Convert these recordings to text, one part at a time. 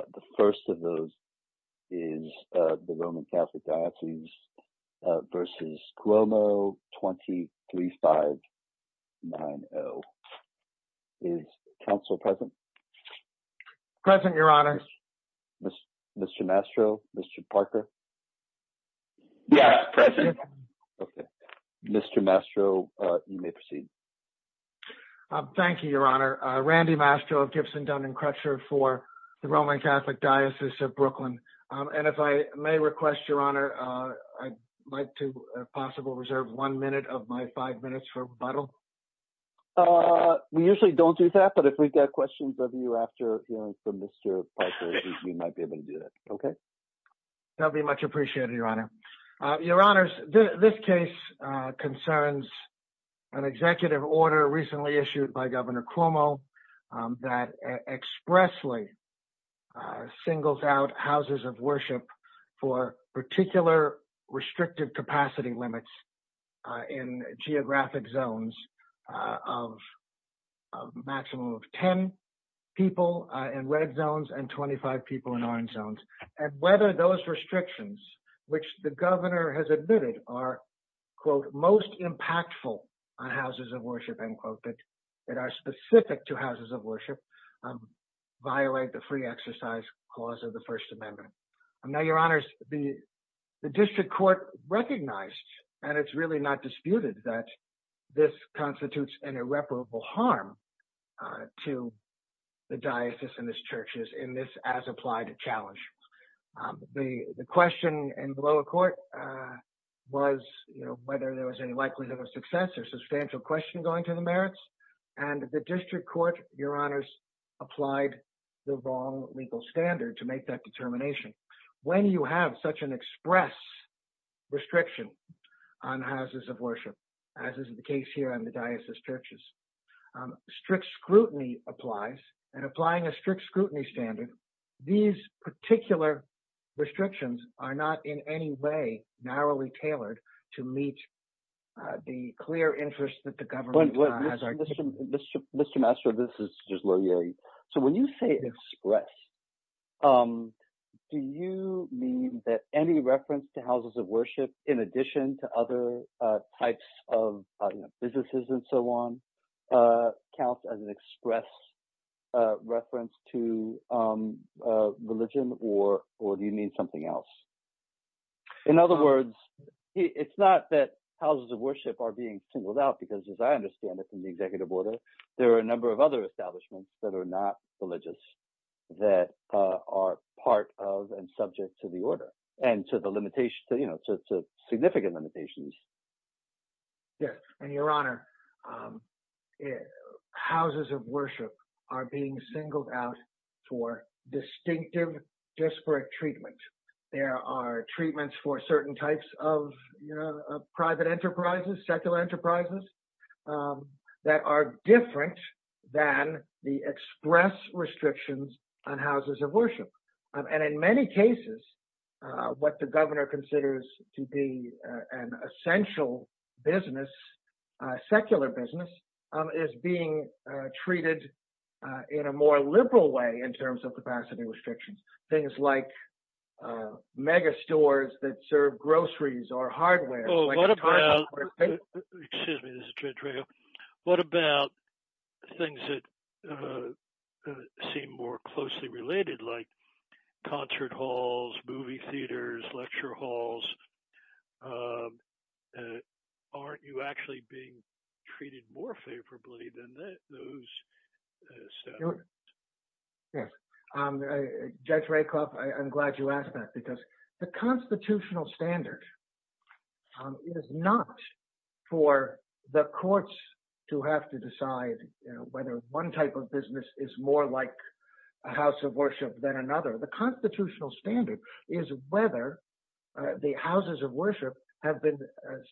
23590. Is the Council present? Present, Your Honor. Mr. Mastro? Mr. Parker? Yes, present. Okay. Mr. Mastro, you may proceed. Thank you, Your Honor. Randy Mastro of Gibson, Dun & Crutcher for the Roman Catholic Diocese of Brooklyn. And if I may request, Your Honor, I'd like to, if possible, reserve one minute of my five minutes for rebuttal. We usually don't do that, but if we've got questions of you after hearing from Mr. Parker, we might be able to do that. Okay. That would be much appreciated, Your Honor. Your Honors, this case concerns an executive order recently issued by Governor Cuomo that expressly singles out houses of worship for particular restrictive capacity limits in geographic zones of a maximum of 10 people in red zones and 25 people in orange zones. And whether those restrictions, which the governor has admitted are, quote, most impactful on houses of worship, end quote, that are specific to houses of worship, violate the free exercise clause of the First Amendment. Now, Your Honors, the district court recognized, and it's really not disputed, that this constitutes an irreparable harm to the diocese and its churches in this as-applied challenge. The question in the lower court was whether there was any likelihood of success or substantial question going to the merits, and the district court, Your Honors, applied the wrong legal standard to make that determination. When you have such an express restriction on houses of worship, as is the case here in the diocese churches, strict scrutiny applies, and applying a strict scrutiny standard, these particular restrictions are not in any way narrowly tailored to meet the clear interest that the government has. Mr. Mastro, this is just low-yielding. So when you say express, do you mean that any reference to houses of worship, in addition to other types of businesses and so on, counts as an express reference to religion, or do you mean something else? In other words, it's not that houses of worship are being singled out, because as I understand it from the executive order, there are a number of other establishments that are not religious that are part of and subject to the order and to the limitations, you know, to significant limitations. Yes, and Your Honor, houses of worship are being singled out for distinctive, disparate treatment. There are treatments for certain types of private enterprises, secular enterprises, that are different than the express restrictions on houses of worship. And in many cases, what the governor considers to be an essential business, secular business, is being treated in a more liberal way in terms of capacity restrictions. Things like megastores that serve groceries or hardware. What about, excuse me, this is Judge Rakoff, what about things that seem more closely related, like concert halls, movie theaters, lecture halls? Aren't you actually being treated more favorably than those? Yes, Judge Rakoff, I'm glad you asked that, because the constitutional standards is not for the courts to have to decide whether one type of business is more like a house of worship than another. The constitutional standard is whether the houses of worship have been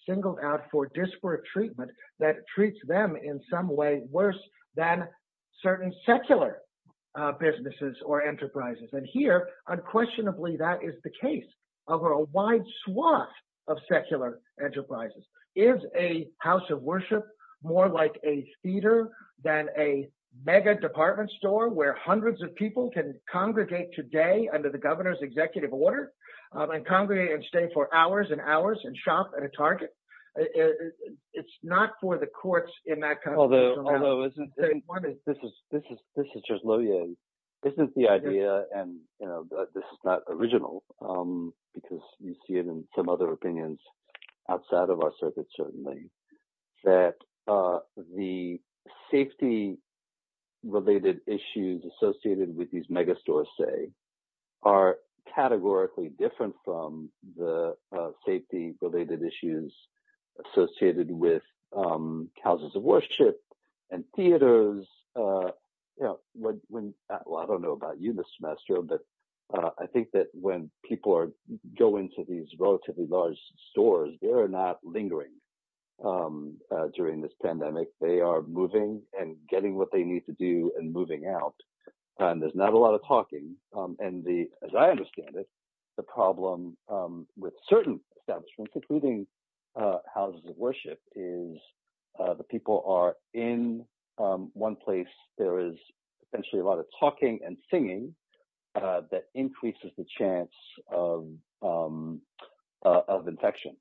singled out for disparate treatment that treats them in some way worse than certain secular businesses or enterprises. And here, unquestionably, that is the case over a wide swath of secular enterprises. Is a house of worship more like a theater than a mega department store where hundreds of people can congregate today under the governor's executive order and congregate and stay for hours and hours and shop at a Target? It's not for the courts in that context. This is just low-yield. This is the idea, and this is not original, because you see it in some other opinions outside of our circuit, certainly, that the safety-related issues associated with these mega stores, say, are categorically different from the safety-related issues associated with houses of worship and theaters. I don't know about you this semester, but I think that when people go into these relatively large stores, they're not lingering during this pandemic. They are moving and getting what they need to do and moving out, and there's not a lot of talking. As I understand it, the problem with certain establishments, including houses of worship, is the people are in one place. There is essentially a lot of talking and singing that increases the chance of infection.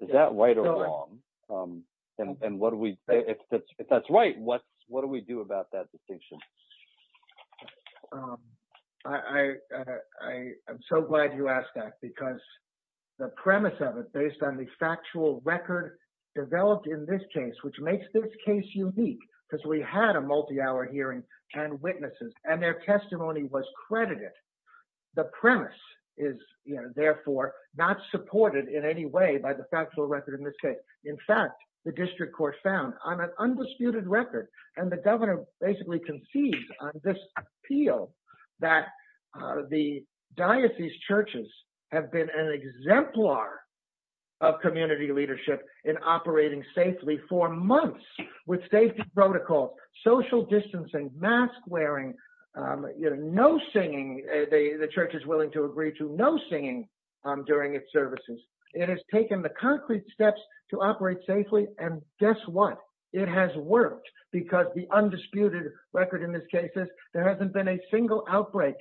Is that right or wrong? If that's right, what do we do about that distinction? I'm so glad you asked that, because the premise of it, based on the factual record developed in this case, which makes this case unique, because we had a multi-hour hearing and witnesses, and their testimony was credited. The premise is, therefore, not supported in any way by the factual record in this case. In fact, the district court found on an undisputed record, and the governor basically concedes on this appeal, that the diocese churches have been an exemplar of community leadership in operating safely for months with safety protocols, social distancing, mask wearing, no singing, the church is willing to agree to no singing during its services. It has taken the concrete steps to operate safely, and guess what? It has worked, because the undisputed record in this case is, there hasn't been a single outbreak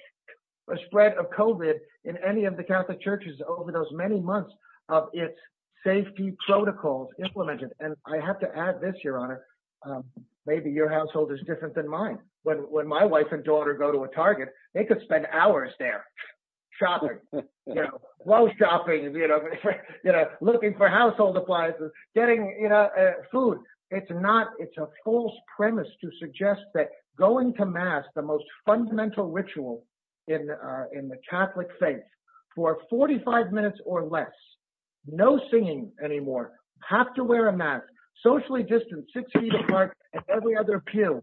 or spread of COVID in any of the Catholic churches over those many months of its safety protocols implemented. I have to add this, Your Honor, maybe your household is different than mine. When my wife and daughter go to a Target, they could spend hours there, shopping, you know, while shopping, looking for household appliances, getting food. It's not, it's a false premise to suggest that going to mass, the most fundamental ritual in the Catholic faith, for 45 minutes or less, no singing anymore, have to wear a mask, socially distanced, six feet apart, and every other appeal,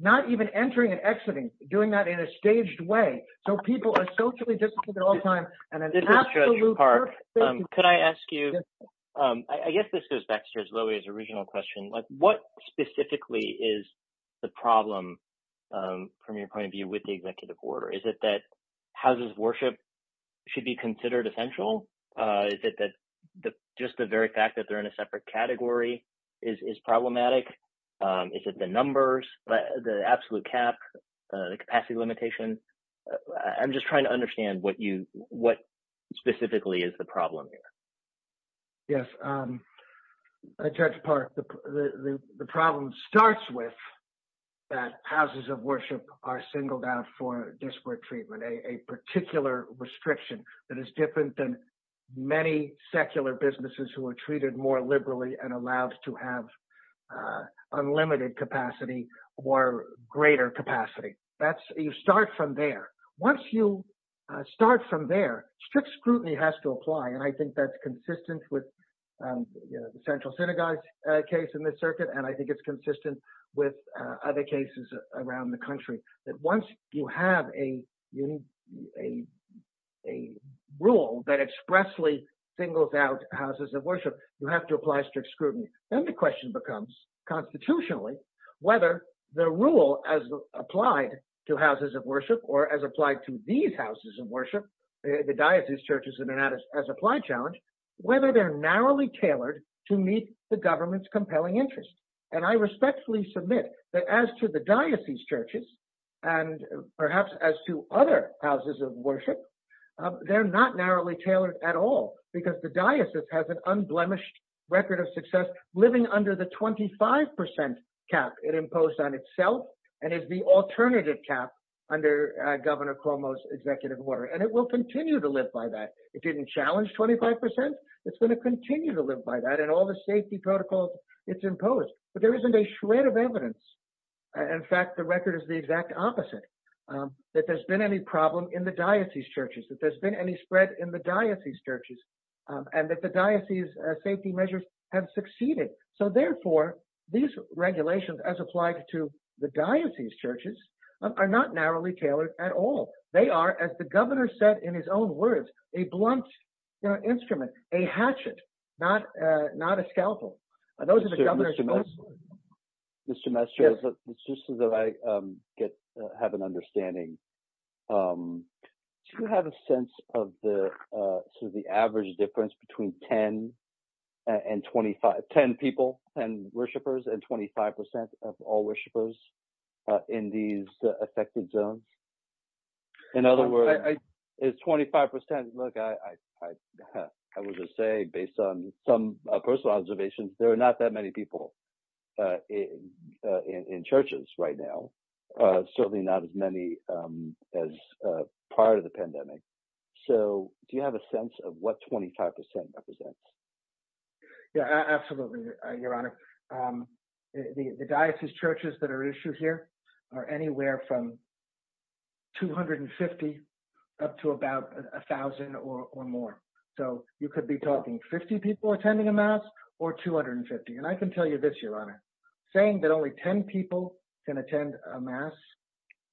not even entering and exiting, doing that in a staged way, so people are socially distanced at all times. This is Judge Park. Could I ask you, I guess this goes back to Loey's original question, what specifically is the problem from your point of view with the executive order? Is it that houses of worship should be considered essential? Is it that just the very fact that they're in a separate category is problematic? Is it the numbers, the absolute cap, the capacity limitation? I'm just trying to understand what you, what specifically is the problem here? Yes, Judge Park, the problem starts with that houses of worship are singled out for disparate treatment, a particular restriction that is different than many secular businesses who are treated more liberally and allowed to have unlimited capacity or greater capacity. That's, you start from there. Once you start from there, strict scrutiny has to apply, and I think that's consistent with the central synagogue case in this circuit, and I think it's consistent with other cases around the country, that once you have a rule that expressly singles out houses of worship, you have to apply strict scrutiny. Then the question becomes, constitutionally, whether the rule as applied to houses of worship or as applied to these houses of worship, the diocese churches in and out as applied challenge, whether they're narrowly tailored to meet the government's compelling interest, and I respectfully submit that as to the diocese churches and perhaps as to other houses of worship, they're not narrowly tailored at all because the diocese has an unblemished record of success living under the 25% cap it imposed on itself, and it's the alternative cap under Governor Cuomo's executive order, and it will continue to live by that. It didn't challenge 25%. It's going to continue to live by that and all the safety protocols it's imposed, but there isn't a shred of evidence. In fact, the record is the exact opposite, that there's been any problem in the diocese churches, that there's been any spread in the diocese churches, and that the diocese safety measures have succeeded. So therefore, these regulations as applied to the diocese churches are not narrowly tailored at all. They are, as the governor said in his own words, a blunt instrument, a hatchet, not a scalpel. Those are the governor's Mr. Mastro, just so that I have an understanding, do you have a sense of the average difference between 10 people, 10 worshipers, and 25% of all worshipers in these affected zones? In other words, it's 25%. Look, I would just say, based on some personal observations, there are not that many people in churches right now, certainly not as many as prior to the pandemic. So do you have a sense of what 25% represents? Yeah, absolutely, your honor. The diocese churches that are issued here are anywhere from 250 up to about a thousand or more. So you can tell you this, your honor, saying that only 10 people can attend a mass,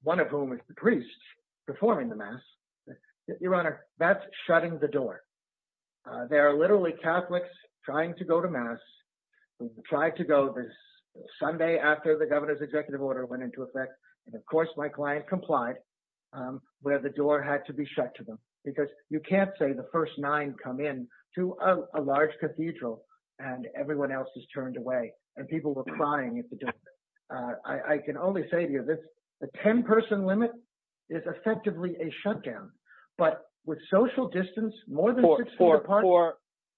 one of whom is the priest performing the mass, your honor, that's shutting the door. There are literally Catholics trying to go to mass, tried to go this Sunday after the governor's executive order went into effect. And of course my client complied where the door had to be shut to them, because you can't say the first nine come in to a large cathedral and everyone else is turned away and people were crying at the door. I can only say to you this, the 10 person limit is effectively a shutdown, but with social distance, more than six feet apart...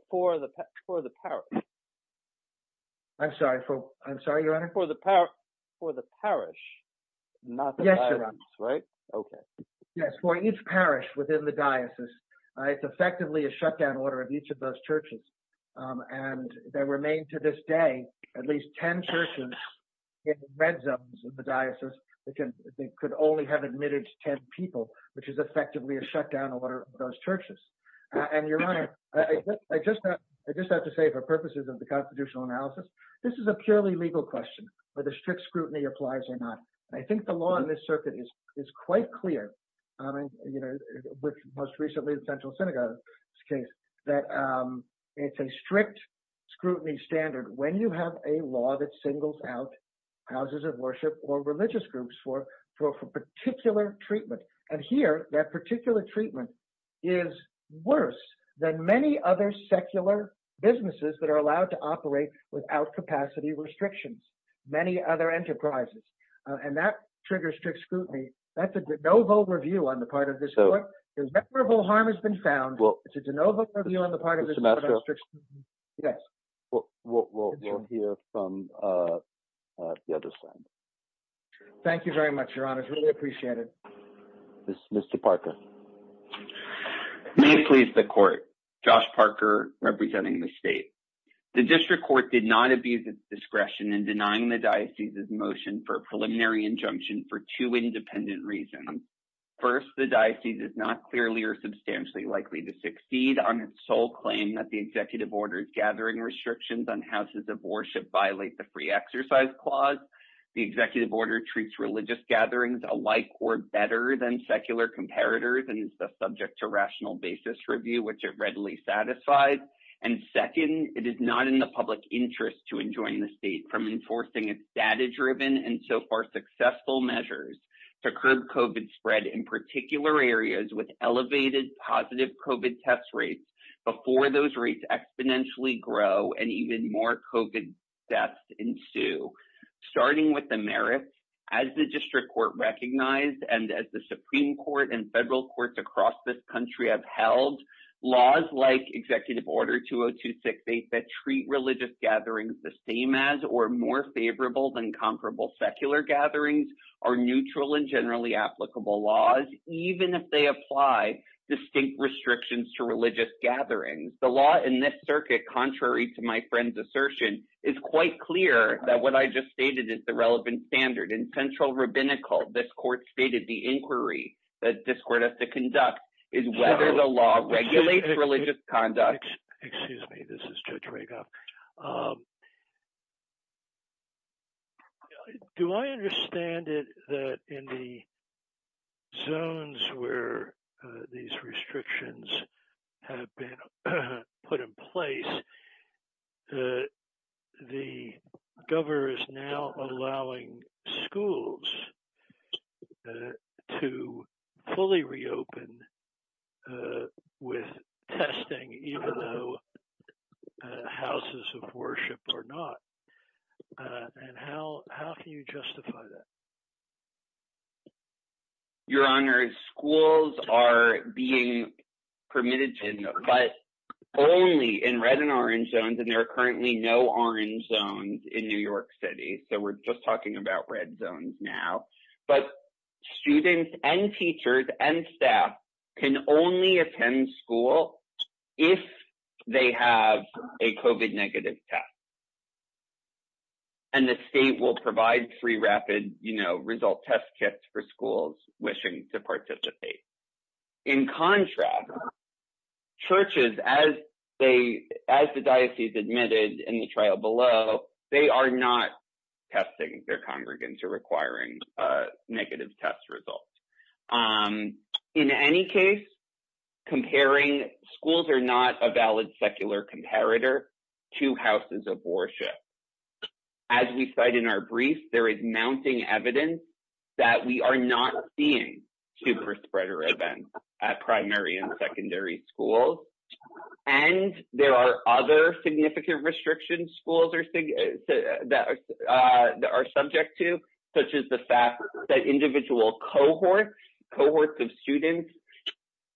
For the parish. I'm sorry, your honor? For the parish, not the diocese, right? Yes, your honor. Okay. Yes, for each parish within the shutdown order of each of those churches, and there remain to this day at least 10 churches in red zones of the diocese that could only have admitted 10 people, which is effectively a shutdown order of those churches. And your honor, I just have to say for purposes of the constitutional analysis, this is a purely legal question, whether strict scrutiny applies or not. I think the law in this circuit is quite clear. I mean, you know, most recently the central synagogue case, that it's a strict scrutiny standard when you have a law that singles out houses of worship or religious groups for particular treatment. And here that particular treatment is worse than many other secular businesses that are allowed to operate without capacity restrictions, many other enterprises. And that triggers strict scrutiny. That's a de novo review on the part of this court. Rememberable harm has been found. It's a de novo review on the part of the district. We'll hear from the other side. Thank you very much, your honor. I really appreciate it. Mr. Parker. May it please the court, Josh Parker representing the state. The district court did not abuse its discretion in denying the diocese's motion for a preliminary injunction for two independent reasons. First, the diocese is not clearly or substantially likely to succeed on its sole claim that the executive order's gathering restrictions on houses of worship violate the free exercise clause. The executive order treats religious gatherings alike or better than secular comparators and is subject to rational basis review, which are readily satisfied. And second, it is not in the public interest to enjoin the state from enforcing its data-driven and so far successful measures to curb COVID spread in particular areas with elevated positive COVID test rates before those rates exponentially grow and even more COVID deaths ensue. Starting with the merits, as the district court recognized and as Supreme Court and federal courts across this country have held, laws like executive order 20268 that treat religious gatherings the same as or more favorable than comparable secular gatherings are neutral and generally applicable laws, even if they apply distinct restrictions to religious gatherings. The law in this circuit, contrary to my friend's assertion, is quite clear that what I just stated is the relevant standard. In central rabbinical, this court stated the inquiry that this court has to conduct is whether the law regulates religious conduct. Judge Reagoff Excuse me, this is Judge Reagoff. Do I understand it that in the zones where these restrictions have been put in place, the governor is now allowing schools to fully reopen with testing, even though houses of worship are not? And how can you justify that? Judge Reagoff Your Honor, schools are being permitted to, but only in red and orange zones, and there are currently no orange zones in New York City. So, we're just talking about red zones now. But students and teachers and staff can only attend school if they have a COVID negative test. And the state will provide three rapid, you know, result test kits for schools wishing to participate. In contrast, churches, as the diocese admitted in the trial below, they are not testing their congregants or requiring negative test results. In any case, comparing schools are not a valid secular comparator to houses of worship. As we cite in our brief, there is mounting evidence that we are not seeing super spreader events at primary and secondary schools. And there are other significant restrictions schools are subject to, such as the fact that individual cohorts of students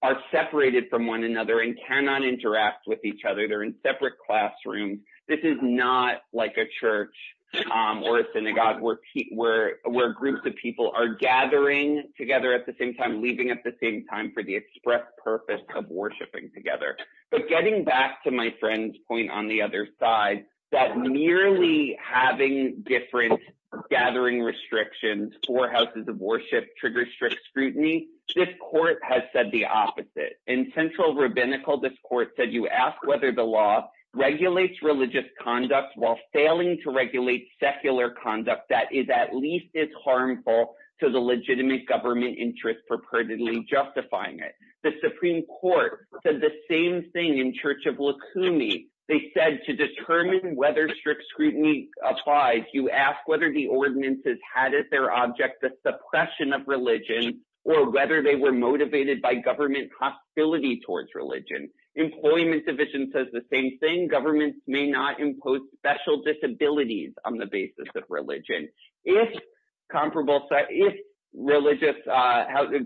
are separated from one another and cannot interact with each other. They're in separate classrooms. This is not like a church or a synagogue where groups of people are gathering together at the same time, leaving at the same time for the express purpose of worshiping together. But getting back to my friend's point on the other side, that merely having different gathering restrictions for houses of worship triggers strict scrutiny, this court has said the opposite. In central rabbinical, this court said you ask whether the law regulates religious conduct while failing to regulate secular conduct that is at least as harmful to the legitimate government interest for purportedly justifying it. The Supreme Court said the same thing in Church of Lukumi. They said to determine whether strict scrutiny applies, you ask whether the ordinances had as their object the suppression of religion or whether they were motivated by government hostility towards religion. Employment Division says the same thing. Governments may not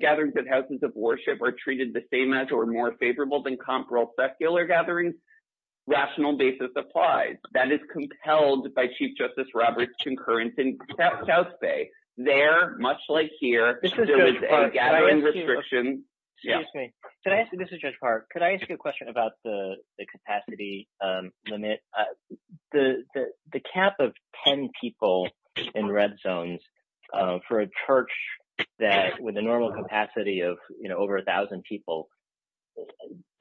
gatherings of houses of worship are treated the same as or more favorable than comparable secular gatherings. Rational basis applies. That is compelled by Chief Justice Roberts' concurrence in South Bay. There, much like here, there is a gathering restriction. Excuse me. This is Judge Park. Could I ask you a question about the capacity limit? The cap of 10 people in red zones for a church that with a normal capacity of over 1,000 people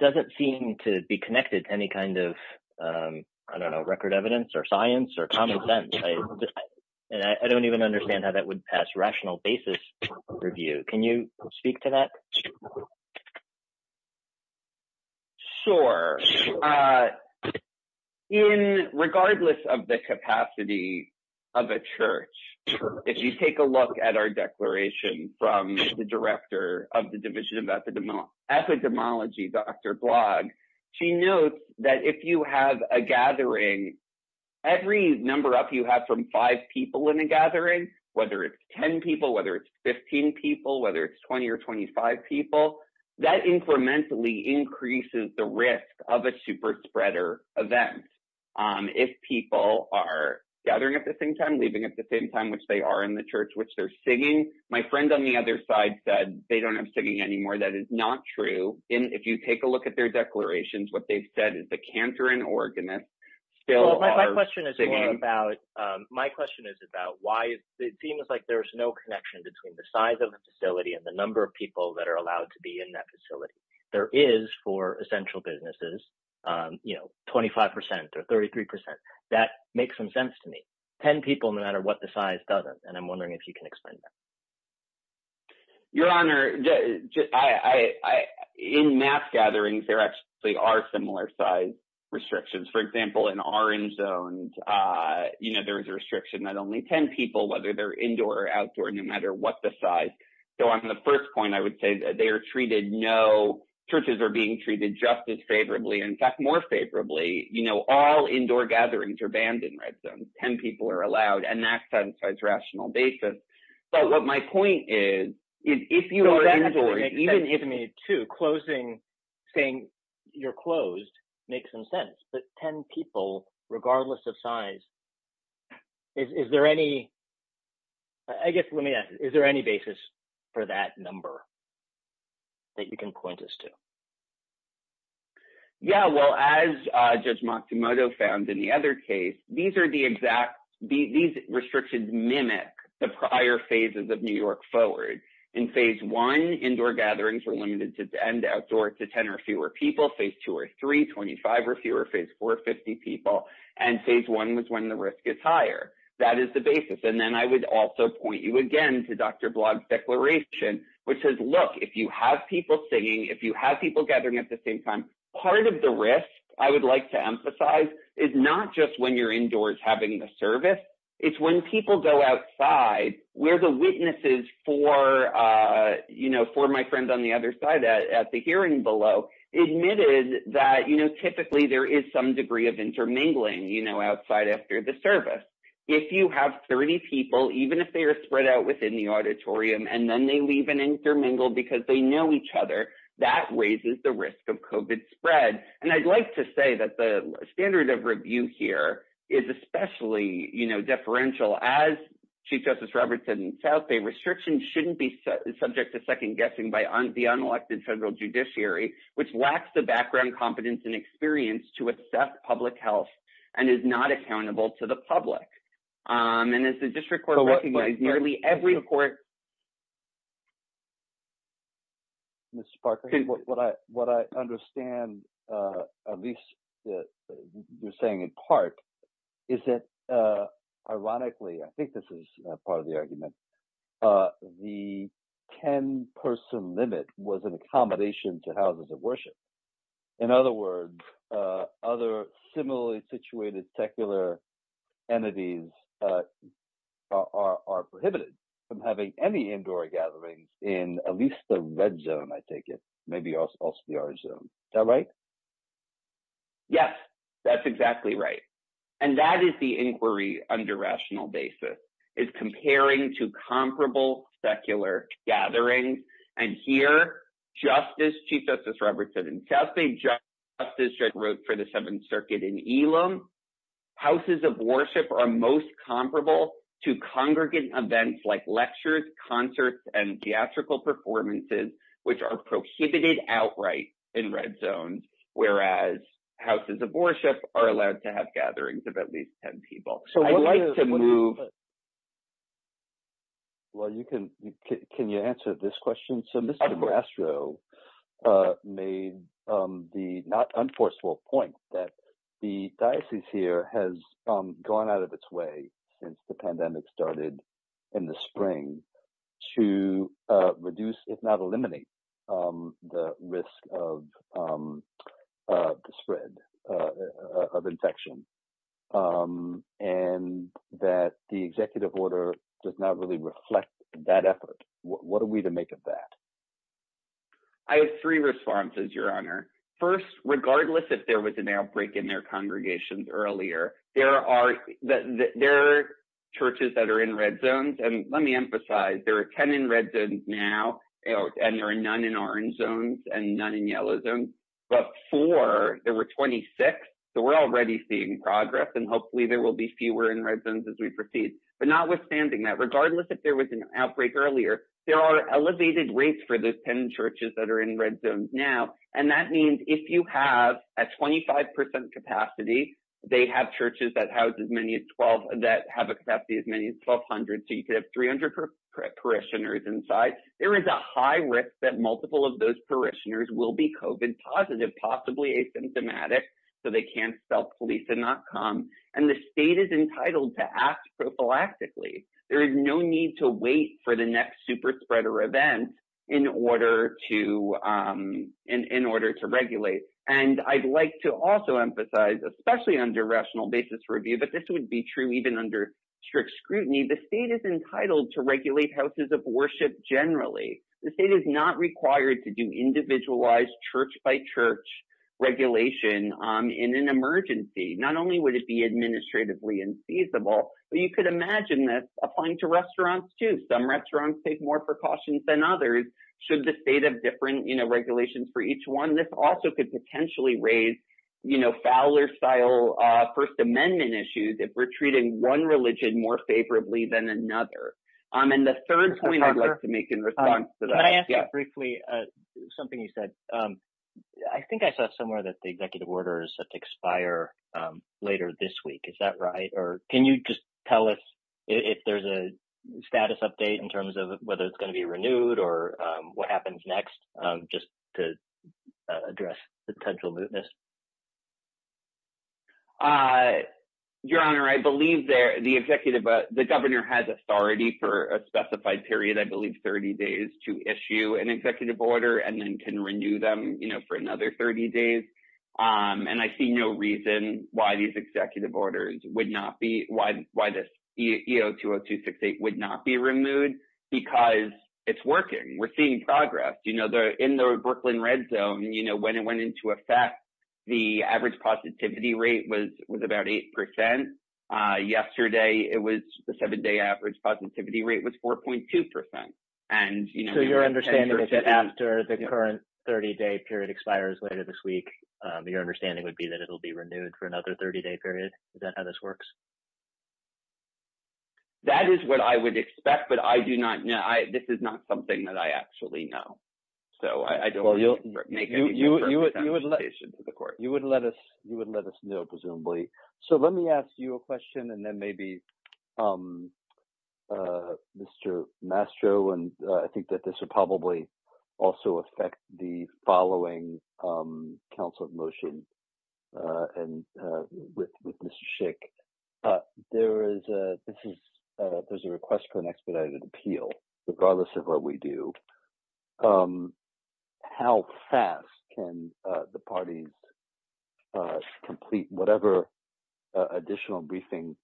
doesn't seem to be connected to any kind of, I don't know, record evidence or science or common sense. I don't even understand how that would pass rational basis review. Can you speak to that? Sure. In regardless of the capacity of a church, if you take a look at our declaration from the director of the Division of Epidemiology, Dr. Blogg, she notes that if you have a gathering, every number up you have from five people in a gathering, whether it's 10 people, whether it's 15 people, whether it's 20 or 25 people, that incrementally increases the risk of a super spreader event. If people are gathering at the same time, leaving at the same time, which they are in the church, which they're singing, my friend on the other side said they don't have singing anymore. That is not true. If you take a look at their declarations, what they've said is the canter and organist still are singing. My question is about why it seems like there's no connection between the size of the facility and the number of people that are allowed to be in that facility. There is for essential businesses, 25 percent or 33 percent. That makes some sense to me. Ten people no matter what the size doesn't. I'm wondering if you can explain that. Your Honor, in mass gatherings, there are similar size restrictions. For example, in orange zones, there's a restriction that only 10 people, whether they're indoor or outdoor, no matter what the size. On the first point, I would say that churches are being treated just as favorably, in fact, more favorably. All indoor gatherings are banned in red zones. Ten people are allowed. That satisfies rational basis. What my point is, if you are indoor, even if you're closed, it makes some sense. Ten people, regardless of size, is there any basis for that number that you can point us to? Yeah. Well, as Judge Matsumoto found in the other case, these restrictions mimic the prior phases of New York Forward. In phase one, indoor gatherings were limited to 10 or fewer people. Phase two or three, 25 or fewer. Phase four, 50 people. Phase one was when the risk is higher. That is the basis. Then I would also point you again to Dr. Blogg's declaration, which says, if you have people singing, if you have people gathering at the same time, part of the risk, I would like to emphasize, is not just when you're indoors having the service. It's when people go outside, where the witnesses for my friend on the other side at the hearing below admitted that typically there is some degree of intermingling outside after the service. If you have 30 people, even if they are spread out within the auditorium, and then they leave intermingled because they know each other, that raises the risk of COVID spread. I'd like to say that the standard of review here is especially differential. As Chief Justice Roberts said in South Bay, restrictions shouldn't be subject to second guessing by the unelected federal judiciary, which lacks the background, competence, and experience to assess public health and is not accountable to the public. As the district court recognized, nearly every court in the state of South Bay is not accountable to the public. Mr. Parker, what I understand, at least you're saying in part, is that ironically, I think this is part of the argument, the 10-person limit was an accommodation to houses of worship. In other words, other similarly situated secular entities are prohibited from having any indoor gatherings in at least the red zone, I take it, maybe also the orange zone. Is that right? Yes, that's exactly right. And that is the inquiry under rational basis, is comparing to comparable secular gatherings. And here, Chief Justice Roberts said in South Bay, justice wrote for the Seventh Circuit in Elam, houses of worship are most comparable to congregant events like lectures, concerts, and theatrical performances, which are prohibited outright in red zones, whereas houses of worship are allowed to have gatherings of at least 10 people. So I'd like to move. Can you answer this question? So Mr. Castro made the not unforceful point that the diocese here has gone out of its way since the pandemic started in the spring to reduce, if not eliminate, the risk of the spread of infection. And that the executive order does not really reflect that effort. What are we to make of that? I have three responses, Your Honor. First, regardless if there was an outbreak in their congregations earlier, there are churches that are in red zones. And let me emphasize, there are 10 in red zones now and there are none in orange zones and none in yellow zones. Before, there were 26. So we're already seeing progress and hopefully there will be fewer in red zones as we proceed. But notwithstanding that, regardless if there was an outbreak earlier, there are elevated rates for the 10 churches that are in red zones now. And that means if you have a 25% capacity, they have churches that have a capacity as many as 1,200. So you could have 300 parishioners inside. There is a high risk that multiple of those parishioners will be COVID positive, possibly asymptomatic, so they can't self-police and not come. And the state is entitled to act prophylactically. There is no need to wait for the next super spreader event in order to regulate. And I'd like to also emphasize, especially under rational basis review, but this would be true even under strict scrutiny, the state is entitled to regulate houses of worship generally. The state is not required to do individualized church-by-church regulation in an emergency. Not only would it be administratively unfeasible, but you could imagine this applying to restaurants too. Some restaurants take more precautions than others should the state have different regulations for each one. This also could potentially raise Fowler-style First Amendment issues if we're treating one religion more favorably than another. And the third point I'd like to make in response to that- Can I ask you briefly something you said? I think I saw somewhere that the executive order is set to expire later this week. Is that right? Or can you just tell us if there's a status update in terms of whether it's going to be renewed or what happens next just to address potential mootness? Your Honor, I believe the governor has authority for a specified period, I believe 30 days, to issue an executive order and then can renew them for another 30 days. And I see no reason why this EO-20268 would not be removed because it's working. We're seeing progress. In the Brooklyn red zone, when it went into effect, the average positivity rate was about 8%. Yesterday, the seven-day average positivity rate was 4.2%. So your understanding is that after the current 30-day period expires later this week, your understanding would be that it'll be renewed for another 30-day period? Is that how this works? That is what I would expect, but I do not know. This is not something that I actually know. So I don't want to make any conversation to the court. You would let us know, presumably. So let me ask you a question and then maybe Mr. Mastro, and I think that this would probably also affect the following council of motion and with Mr. Schick. There's a request for an expedited appeal, regardless of what we do. How fast can the parties complete whatever additional briefing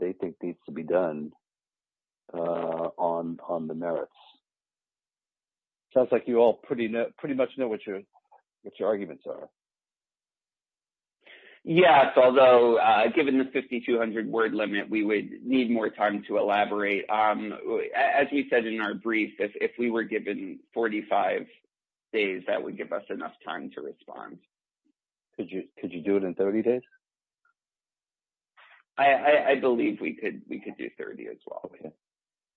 they think needs to be done on the merits? Sounds like you all pretty much know what your arguments are. Yes, although given the 5200 word limit, we would need more time to elaborate. As we said in our 45 days, that would give us enough time to respond. Could you do it in 30 days? I believe we could do 30 as well.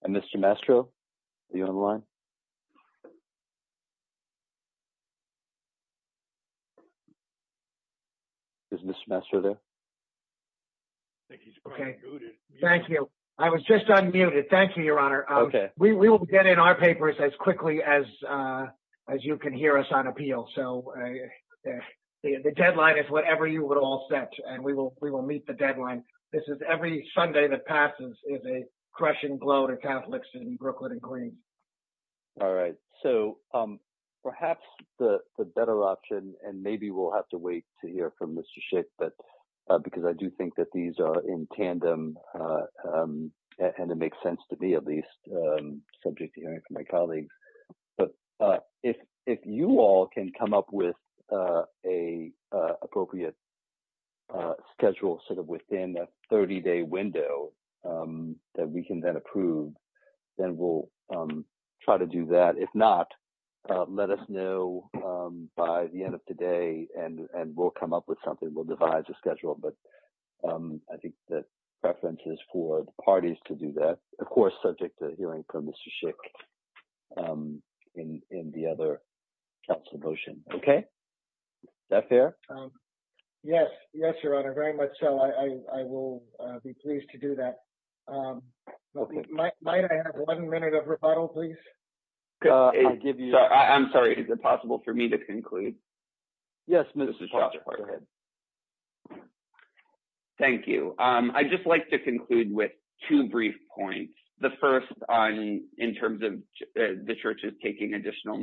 And Mr. Mastro, are you on the line? Is Mr. Mastro there? Thank you. I was just unmuted. Thank you, as you can hear us on appeal. So the deadline is whatever you would all set, and we will meet the deadline. This is every Sunday that passes is a crushing blow to Catholics in Brooklyn and Green. All right. So perhaps the better option, and maybe we'll have to wait to hear from Mr. Schick, because I do think that these are in tandem. And it makes sense to me, at least, subject to hearing from my colleagues. But if you all can come up with an appropriate schedule sort of within a 30-day window that we can then approve, then we'll try to do that. If not, let us know by the end of today, and we'll come up with something. We'll devise a schedule. But I think the preference is for the parties to do that, of course, subject to hearing from Mr. Schick in the other council motion. Okay? Is that fair? Yes. Yes, Your Honor. Very much so. I will be pleased to do that. Might I have one minute of rebuttal, please? I'm sorry. Is it possible for me to conclude? Yes, Mr. Schick, go ahead. Thank you. I'd just like to conclude with two brief points. The first in terms of the church is taking additional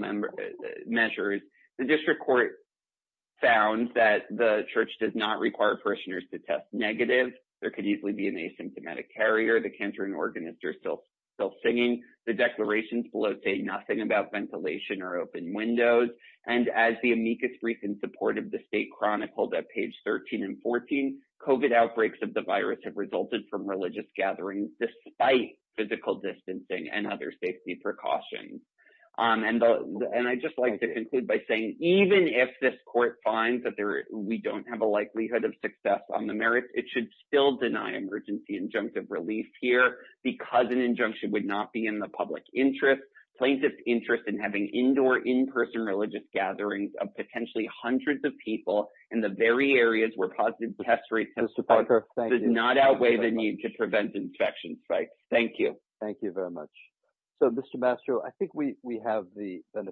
measures. The district court found that the church does not require parishioners to test negative. There could easily be an asymptomatic carrier. The cantering organist are still singing. The declarations below say nothing about ventilation or open windows. As the amicus brief in support of the state chronicled at page 13 and 14, COVID outbreaks of the virus have resulted from religious gatherings despite physical distancing and other safety precautions. I'd just like to conclude by saying even if this court finds that we don't have a likelihood of success on the merits, it should still deny emergency injunctive relief here because an injunction would not be in the public interest. Plaintiff's interest in indoor, in-person religious gatherings of potentially hundreds of people in the very areas where positive test rates have not outweighed the need to prevent infections. Thank you. Thank you very much. So, Mr. Mastro, I think we have the benefit.